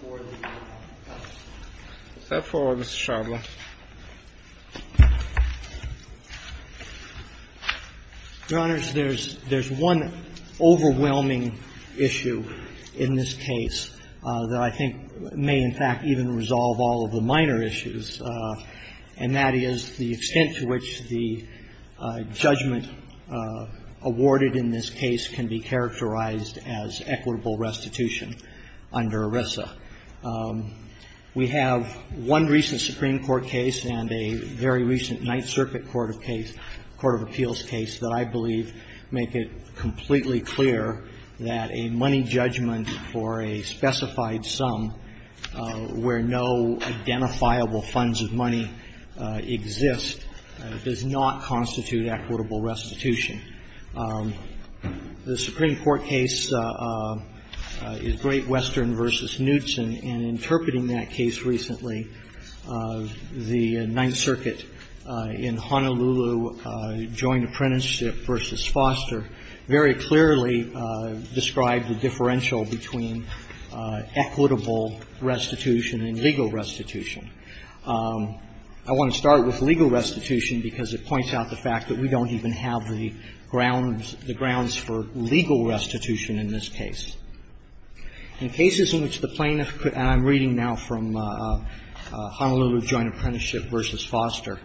for the test. Go forward, Mr. Shardlow. Your Honors, there's one overwhelming issue in this case that I think may, in fact, even resolve all of the minor issues, and that is the extent to which the judgment awarded in this case can be characterized as equitable restitution under ERISA. We have one recent Supreme Court case and a very recent Ninth Circuit Court of Appeals case that I believe make it completely clear that a money judgment for a specified sum where no identifiable funds of money exist does not constitute equitable restitution. The Supreme Court case is Great Western v. Knutson, and interpreting that case recently, the Ninth Circuit in Honolulu Joint Apprenticeship v. Foster very clearly described the differential between equitable restitution and legal restitution. I want to start with legal restitution because it points out the fact that we don't even have the grounds, the grounds for legal restitution in this case. In cases in which the plaintiff could, and I'm reading now from Honolulu Joint Apprenticeship v. Foster,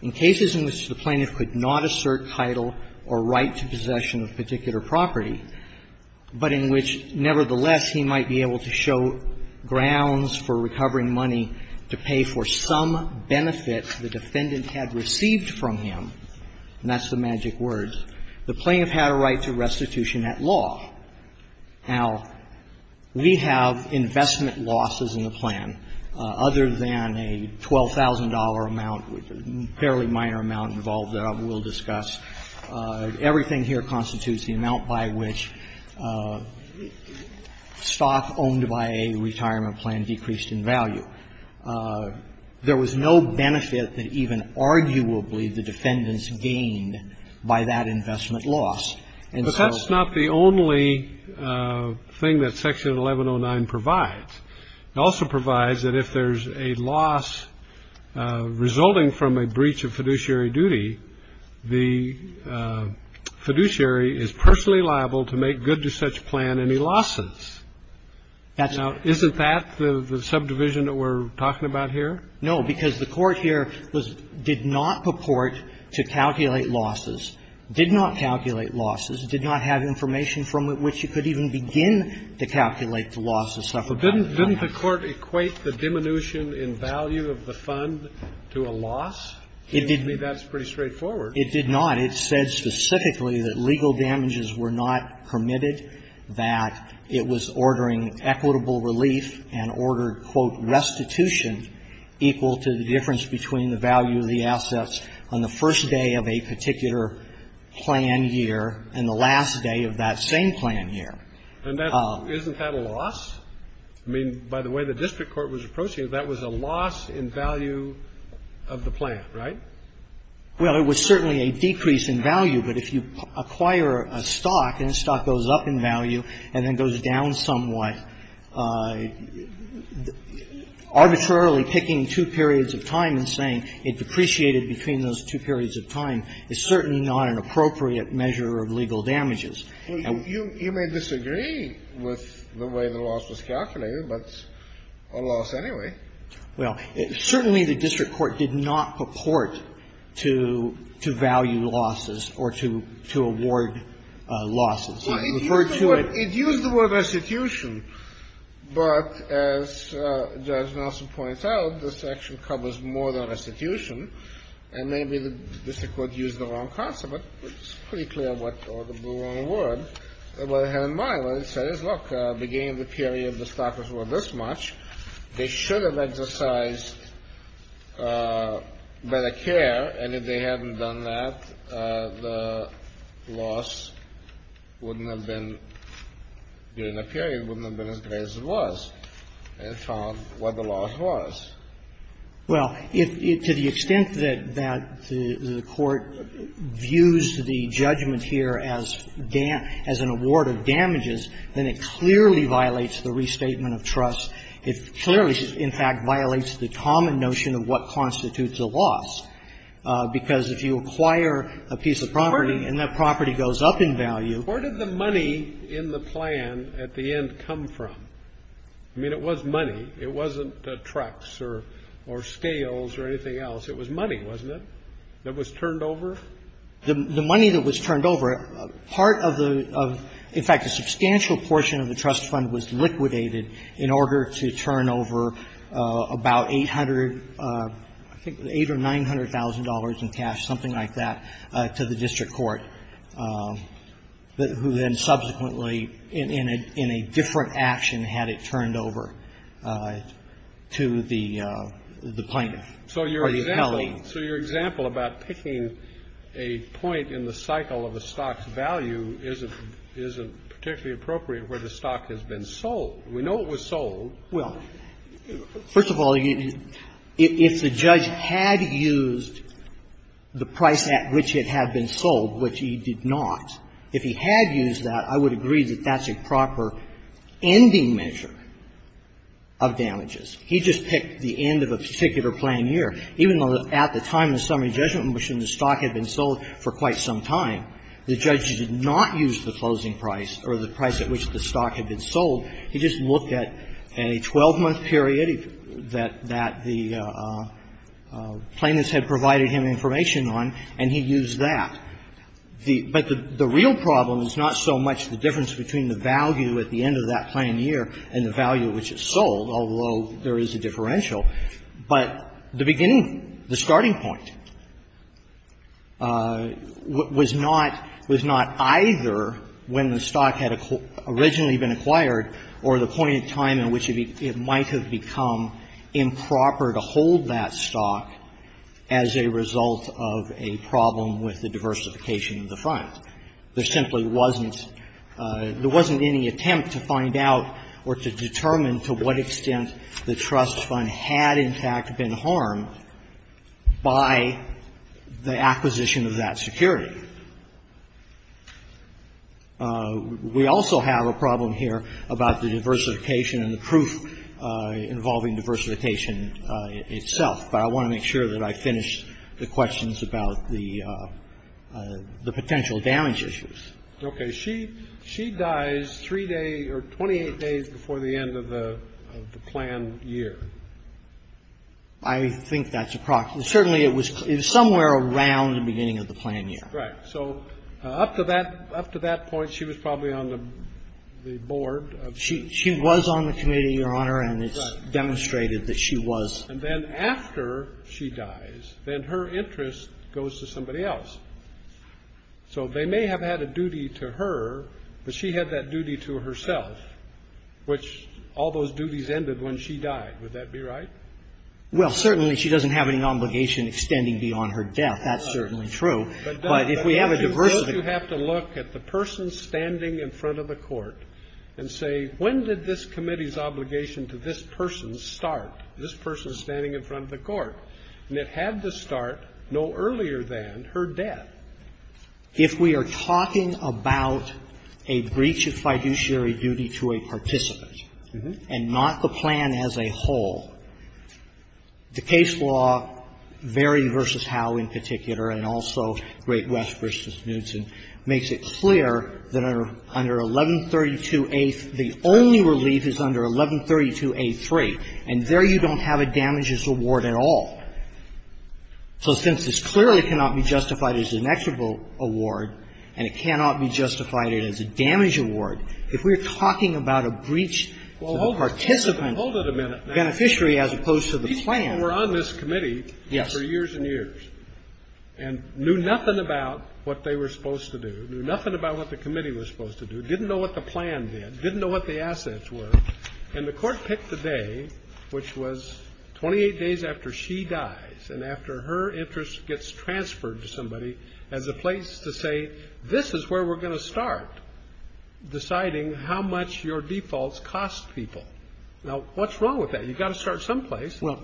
in cases in which the plaintiff could not assert title or right to possession of a particular property, but in which, nevertheless, he might be able to show grounds for recovering money to pay for some benefit the defendant had received from him, and that's the magic words, the plaintiff had a right to restitution at law. Now, we have investment losses in the plan other than a $12,000 amount, a fairly minor amount involved that we'll discuss. Everything here constitutes the amount by which stock owned by a retirement plan decreased in value. There was no benefit that even arguably the defendants gained by that investment loss. And so the only thing that Section 1109 provides, it also provides that if there's a loss resulting from a breach of fiduciary duty, the fiduciary is personally liable to make good to such plan any losses. Now, isn't that the subdivision that we're talking about here? No, because the Court here was did not purport to calculate losses, did not calculate losses, did not have information from which you could even begin to calculate the losses. So didn't the Court equate the diminution in value of the fund to a loss? It didn't. I mean, that's pretty straightforward. It did not. It said specifically that legal damages were not permitted, that it was ordering equitable relief and ordered, quote, restitution equal to the difference between the value of the assets on the first day of a particular plan year and the last day of that same plan year. And that's why it's not a loss. I mean, by the way the district court was approaching it, that was a loss in value of the plan, right? Well, it was certainly a decrease in value. But if you acquire a stock and the stock goes up in value and then goes down somewhat, arbitrarily picking two periods of time and saying it depreciated between those two periods of time is certainly not an appropriate measure of legal damages. And you may disagree with the way the loss was calculated, but it's a loss anyway. Well, certainly the district court did not purport to value losses or to award losses. It referred to a ---- It used the word restitution. But as Judge Nelson points out, this action covers more than restitution, and maybe the district court used the wrong concept, but it's pretty clear what the blue on the board, what it had in mind when it says, look, beginning of the period, the stock was worth this much. They should have exercised better care, and if they hadn't done that, the loss wouldn't have been, during the period, wouldn't have been as great as it was. And it found what the loss was. Well, to the extent that the court views the judgment here as an award of damages, then it clearly violates the restatement of trust. It clearly, in fact, violates the common notion of what constitutes a loss, because if you acquire a piece of property and that property goes up in value ---- Where did the money in the plan at the end come from? I mean, it was money. It wasn't trucks or scales or anything else. It was money, wasn't it, that was turned over? The money that was turned over, part of the ---- in fact, a substantial portion of the trust fund was liquidated in order to turn over about 800, I think $800,000 or $900,000 in cash, something like that, to the district court, who then subsequently in a different action had it turned over to the plaintiff or the appellee. So your example about picking a point in the cycle of a stock's value isn't particularly appropriate where the stock has been sold. We know it was sold. Well, first of all, if the judge had used the price at which it had been sold, which he did not, if he had used that, I would agree that that's a proper ending measure of damages. He just picked the end of a particular plain year. Even though at the time of the summary judgment in which the stock had been sold for quite some time, the judge did not use the closing price or the price at which the stock had been sold. He just looked at a 12-month period that the plaintiffs had provided him information on, and he used that. But the real problem is not so much the difference between the value at the end of that plain year and the value at which it's sold, although there is a differential, but the beginning, the starting point was not either when the stock had originally been acquired or the point in time in which it might have become improper to hold that stock as a result of a problem with the diversification of the stock. The problem was not with the diversification of the fund. There simply wasn't any attempt to find out or to determine to what extent the trust fund had, in fact, been harmed by the acquisition of that security. We also have a problem here about the diversification and the proof involving diversification itself. But I want to make sure that I finish the questions about the potential damage issues. Okay. She dies 3 days or 28 days before the end of the planned year. I think that's approximately. Certainly, it was somewhere around the beginning of the planned year. Right. So up to that point, she was probably on the board of the committee. She was on the committee, Your Honor, and it's demonstrated that she was. And then after she dies, then her interest goes to somebody else. So they may have had a duty to her, but she had that duty to herself, which all those duties ended when she died. Would that be right? Well, certainly, she doesn't have any obligation extending beyond her death. That's certainly true. But if we have a diversification. But don't you have to look at the person standing in front of the court and say, when did this committee's obligation to this person start? This person is standing in front of the court. And it had to start no earlier than her death. If we are talking about a breach of fiduciary duty to a participant and not the plan as a whole, the case law, Vary v. Howe in particular, and also Great West v. Knutson, makes it clear that under 1132a, the only relief is under 1132a3. And there you don't have a damages award at all. So since this clearly cannot be justified as an equitable award and it cannot be justified as a damage award, if we are talking about a breach to the participant's beneficiary as opposed to the plan. These people were on this committee for years and years and knew nothing about what they were supposed to do, knew nothing about what the committee was supposed to do, didn't know what the plan did, didn't know what the assets were. And the Court picked the day, which was 28 days after she dies and after her interest gets transferred to somebody, as a place to say, this is where we're going to start deciding how much your defaults cost people. Now, what's wrong with that? You've got to start someplace. Well,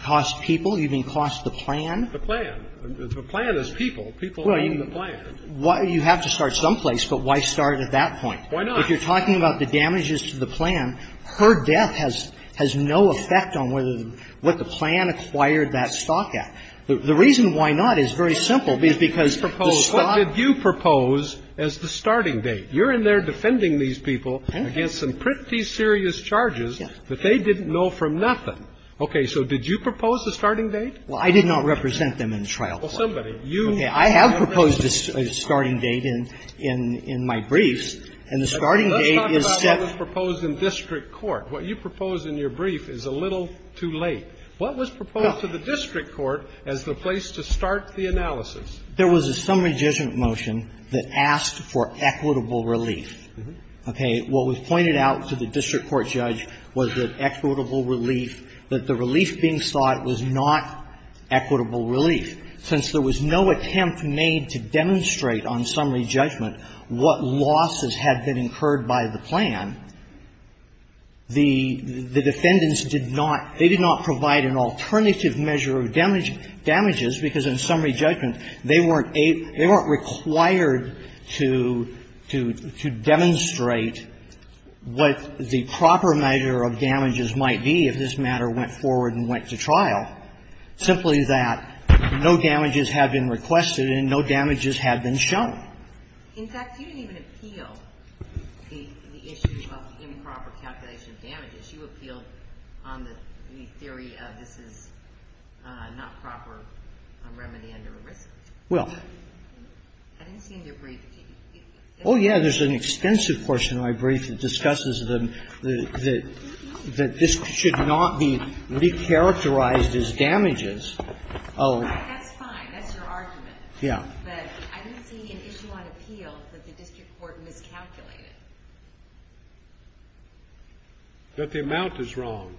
cost people, you mean cost the plan? The plan. The plan is people. People are in the plan. You have to start someplace, but why start at that point? Why not? If you're talking about the damages to the plan, her death has no effect on whether the plan acquired that stock at. The reason why not is very simple, because the stock What did you propose as the starting date? You're in there defending these people against some pretty serious charges that they didn't know from nothing. Okay. So did you propose the starting date? Well, I did not represent them in the trial court. Well, somebody. Okay. I have proposed a starting date in my briefs, and the starting date is set. Let's talk about what was proposed in district court. What you proposed in your brief is a little too late. What was proposed to the district court as the place to start the analysis? There was a summary judgment motion that asked for equitable relief. Okay. What was pointed out to the district court judge was that equitable relief, that the relief being sought was not equitable relief. Since there was no attempt made to demonstrate on summary judgment what losses had been incurred by the plan, the defendants did not they did not provide an alternative measure of damages, because in summary judgment, they weren't able they weren't required to demonstrate what the proper measure of damages might be if this matter went forward and went to trial, simply that no damages have been requested and no damages have been shown. In fact, you didn't even appeal the issue of improper calculation of damages. You appealed on the theory of this is not proper remedy under ERISA. Well. I didn't see in your brief. Oh, yeah. There's an extensive portion of my brief that discusses that this should not be recharacterized as damages. Oh. That's fine. That's your argument. Yeah. But I didn't see an issue on appeal that the district court miscalculated. But the amount is wrong.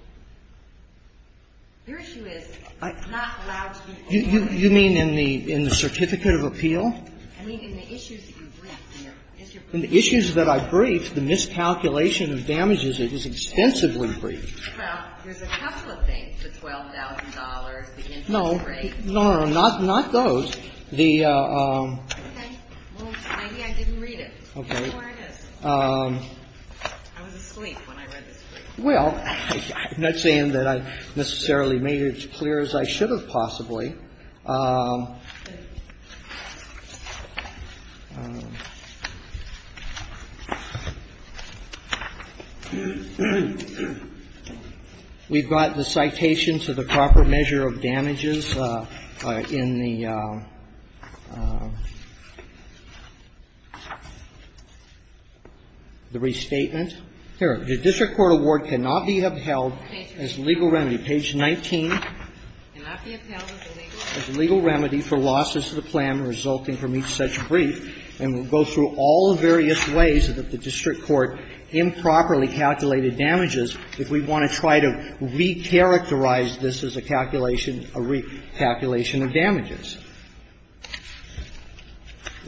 Your issue is it's not allowed to be overrated. You mean in the certificate of appeal? I mean, in the issues that you briefed. In the issues that I briefed, the miscalculation of damages, it was extensively briefed. Well, there's a couple of things, the $12,000, the interest rate. No, no, no, not those. The ---- Okay. Well, maybe I didn't read it. Okay. I was asleep when I read this brief. Well, I'm not saying that I necessarily made it as clear as I should have possibly. We've got the citations of the proper measure of damages in the restatement. Here, the district court award cannot be upheld as legal remedy. Page 19. It cannot be upheld as a legal remedy for losses to the plan resulting from each such brief. And we'll go through all the various ways that the district court improperly calculated damages if we want to try to recharacterize this as a calculation of damages.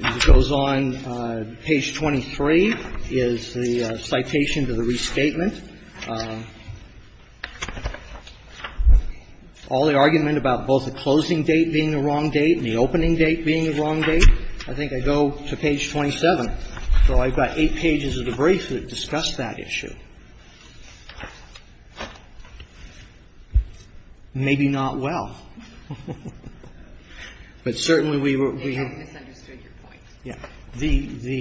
It goes on, page 23, is the citation to the restatement. All the argument about both the closing date being the wrong date and the opening date being the wrong date, I think I go to page 27. So I've got eight pages of the brief that discuss that issue. Maybe not well. But certainly we were ---- They have misunderstood your point. Yeah. The, the,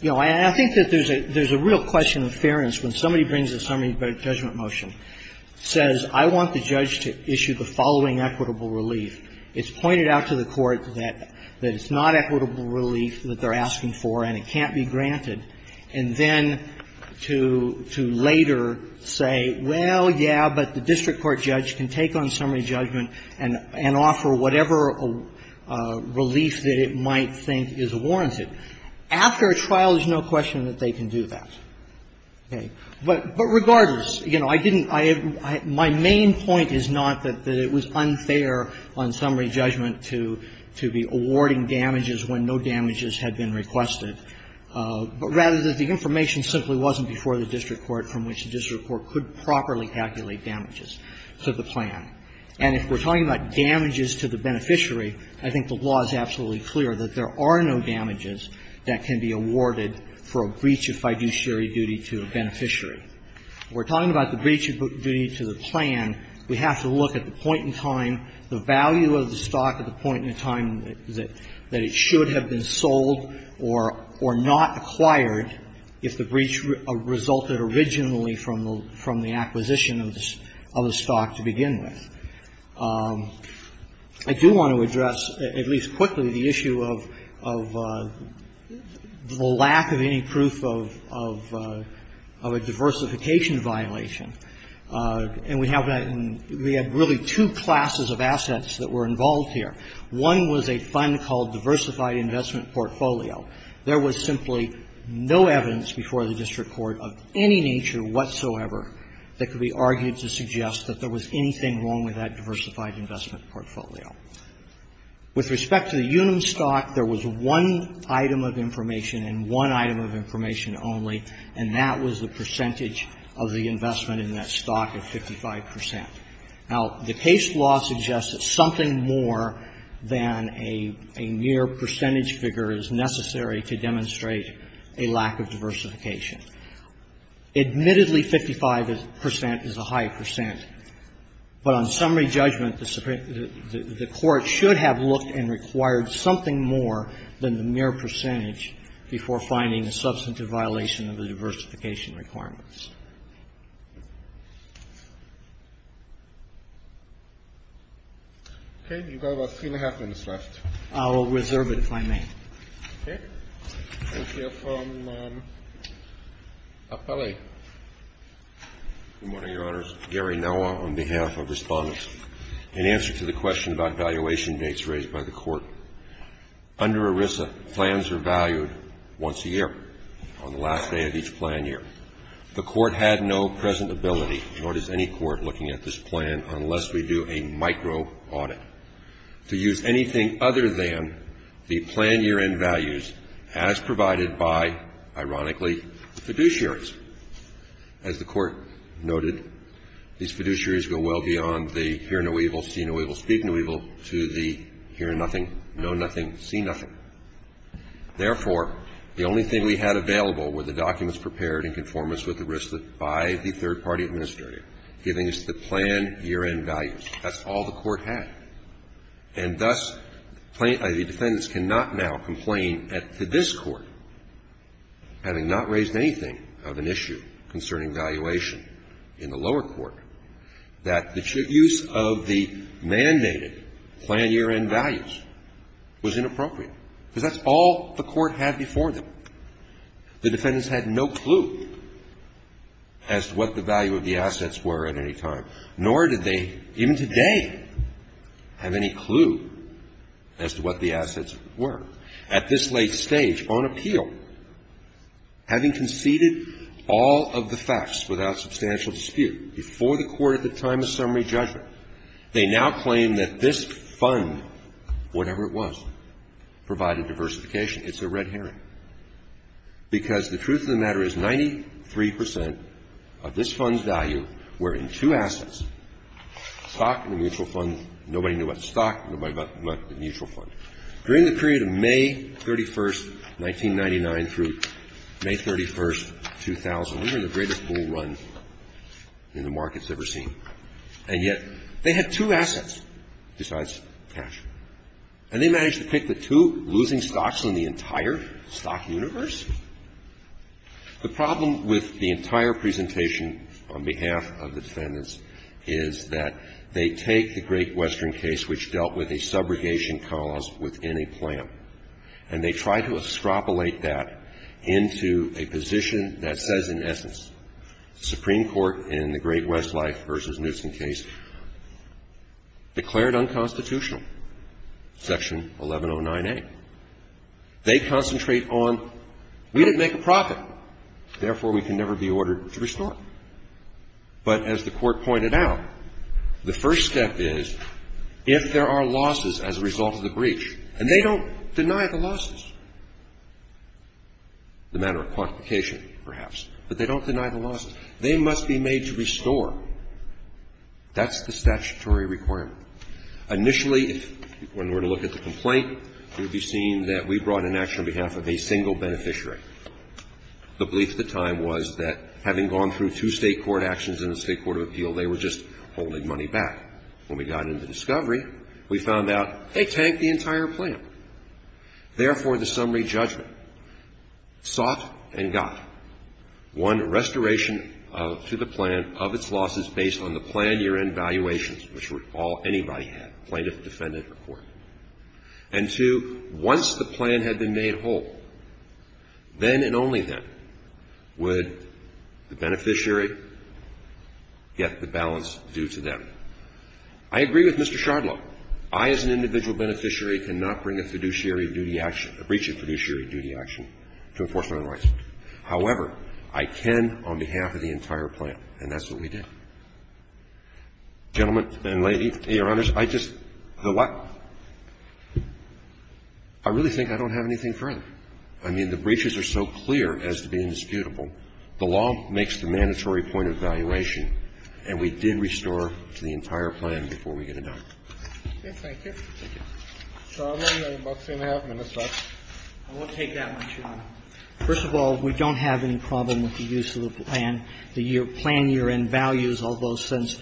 you know, and I think that there's a real question of fairness when somebody brings a summary judgment motion, says, I want the judge to issue the following equitable relief. It's pointed out to the court that, that it's not equitable relief that they're asking for and it can't be granted, and then to, to later say, well, yeah, but the district court judge can take on summary judgment and, and offer whatever relief that it might think is warranted. After a trial, there's no question that they can do that. Okay. But, but regardless, you know, I didn't, I, my main point is not that, that it was unfair on summary judgment to, to be awarding damages when no damages had been requested, but rather that the information simply wasn't before the district court from which the district court could properly calculate damages to the plan. And if we're talking about damages to the beneficiary, I think the law is absolutely clear that there are no damages that can be awarded for a breach of fiduciary duty to a beneficiary. If we're talking about the breach of duty to the plan, we have to look at the point in time, the value of the stock at the point in time that, that it should have been sold or, or not acquired if the breach resulted originally from the, from the acquisition of the, of the stock to begin with. I do want to address, at least quickly, the issue of, of the lack of any proof of, of, of a diversification violation. And we have, we have really two classes of assets that were involved here. One was a fund called Diversified Investment Portfolio. There was simply no evidence before the district court of any nature whatsoever that could be argued to suggest that there was anything wrong with that Diversified Investment Portfolio. With respect to the Unum stock, there was one item of information and one item of information only, and that was the percentage of the investment in that stock of 55 percent. Now, the case law suggests that something more than a, a mere percentage figure is necessary to demonstrate a lack of diversification. Admittedly, 55 percent is a high percent, but on summary judgment, the Supreme the, the court should have looked and required something more than the mere percentage before finding a substantive violation of the diversification requirements. Roberts. Okay. You've got about three and a half minutes left. I will reserve it if I may. Okay. Thank you. From Appellee. Good morning, Your Honors. Gary Noah on behalf of Respondents. In answer to the question about valuation dates raised by the court, under ERISA, plans are valued once a year on the last day of each plan year. The court had no present ability, nor does any court looking at this plan, unless we do a micro audit. To use anything other than the planned year-end values as provided by, ironically, the fiduciaries. As the court noted, these fiduciaries go well beyond the hear no evil, see no evil, speak no evil, to the hear nothing, know nothing, see nothing. Therefore, the only thing we had available were the documents prepared in conformance with the risks by the third party administrator, giving us the planned year-end values. That's all the court had. And thus, the defendants cannot now complain to this court, having not raised anything of an issue concerning valuation in the lower court, that the use of the mandated planned year-end values was inappropriate. Because that's all the court had before them. The defendants had no clue as to what the value of the assets were at any time. Nor did they, even today, have any clue as to what the assets were. At this late stage, on appeal, having conceded all of the facts without substantial dispute before the court at the time of summary judgment, they now claim that this fund, whatever it was, provided diversification. It's a red herring. And it's a red herring because the truth of the matter is 93 percent of this fund's value were in two assets, stock and a mutual fund. Nobody knew about the stock, nobody knew about the mutual fund. During the period of May 31, 1999, through May 31, 2000, we were in the greatest bull run in the markets ever seen. And yet, they had two assets besides cash. And they managed to pick the two losing stocks in the entire stock universe. The problem with the entire presentation on behalf of the defendants is that they take the Great Western case, which dealt with a subrogation cause within a plan, and they try to extrapolate that into a position that says, in essence, the Supreme Court in the Great Westlife v. Newsom case declared unconstitutional. And when you look at the court's presentation, Section 1109A, they concentrate on we didn't make a profit, therefore we can never be ordered to restore. But as the Court pointed out, the first step is, if there are losses as a result of the breach, and they don't deny the losses, the matter of quantification perhaps, but they don't deny the losses, they must be made to restore. That's the statutory requirement. Initially, when we were to look at the complaint, it would be seen that we brought an action on behalf of a single beneficiary. The belief at the time was that, having gone through two State court actions in the State Court of Appeal, they were just holding money back. When we got into discovery, we found out they tanked the entire plan. Therefore, the summary judgment sought and got one restoration to the plan of its losses based on the planned year-end valuations, which anybody had, plaintiff, defendant, or court. And two, once the plan had been made whole, then and only then would the beneficiary get the balance due to them. I agree with Mr. Shardlow. I, as an individual beneficiary, cannot bring a fiduciary duty action, a breach of fiduciary duty action to enforce my own rights. However, I can on behalf of the entire plan, and that's what we did. Gentlemen and ladies, Your Honors, I just the what? I really think I don't have anything further. I mean, the breaches are so clear as to be indisputable. The law makes the mandatory point of valuation, and we did restore to the entire plan before we got it done. Thank you. Mr. Shardlow, you have about three and a half minutes left. I will take that one, Your Honor. First of all, we don't have any problem with the use of the plan, the plan year-end values, although since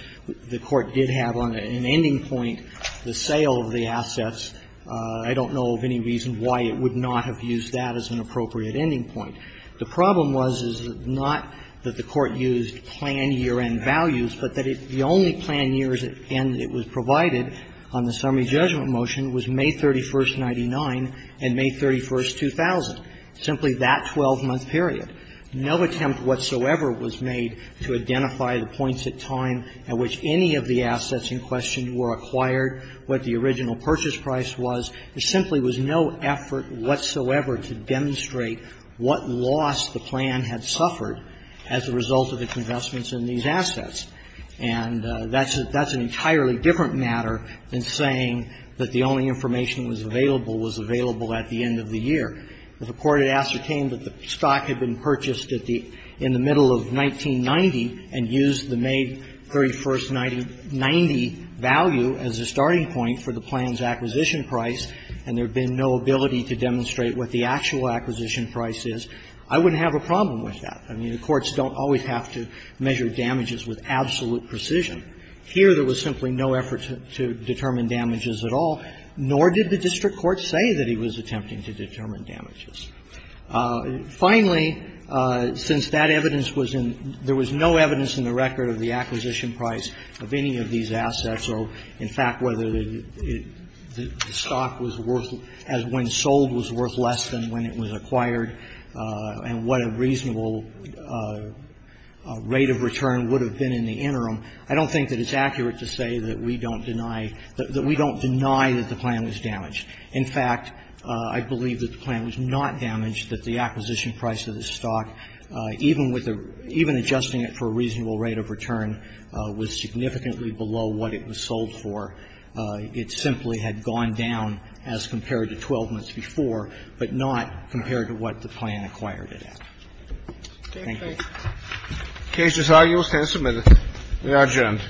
the Court did have on an ending point the sale of the assets, I don't know of any reason why it would not have used that as an appropriate ending point. The problem was, is not that the Court used plan year-end values, but that the only plan years, and it was provided on the summary judgment motion, was May 31st, 99 and May 31st, 2000. Simply that 12-month period, no attempt whatsoever was made to identify the points at time at which any of the assets in question were acquired, what the original purchase price was. There simply was no effort whatsoever to demonstrate what loss the plan had suffered as a result of its investments in these assets. And that's an entirely different matter than saying that the only information that was available was available at the end of the year. If the Court had ascertained that the stock had been purchased at the end of the middle of 1990 and used the May 31st, 1990 value as a starting point for the plan's acquisition price, and there had been no ability to demonstrate what the actual acquisition price is, I wouldn't have a problem with that. I mean, the courts don't always have to measure damages with absolute precision. Here, there was simply no effort to determine damages at all, nor did the district court say that he was attempting to determine damages. Finally, since that evidence was in the record, there was no evidence in the record of the acquisition price of any of these assets or, in fact, whether the stock was worth as when sold was worth less than when it was acquired, and what a reasonable rate of return would have been in the interim. I don't think that it's accurate to say that we don't deny that the plan was damaged. In fact, I believe that the plan was not damaged, that the acquisition price of the stock, even with the – even adjusting it for a reasonable rate of return, was significantly below what it was sold for. It simply had gone down as compared to 12 months before, but not compared to what the plan acquired it at. Thank you. The case is now used and submitted. We are adjourned.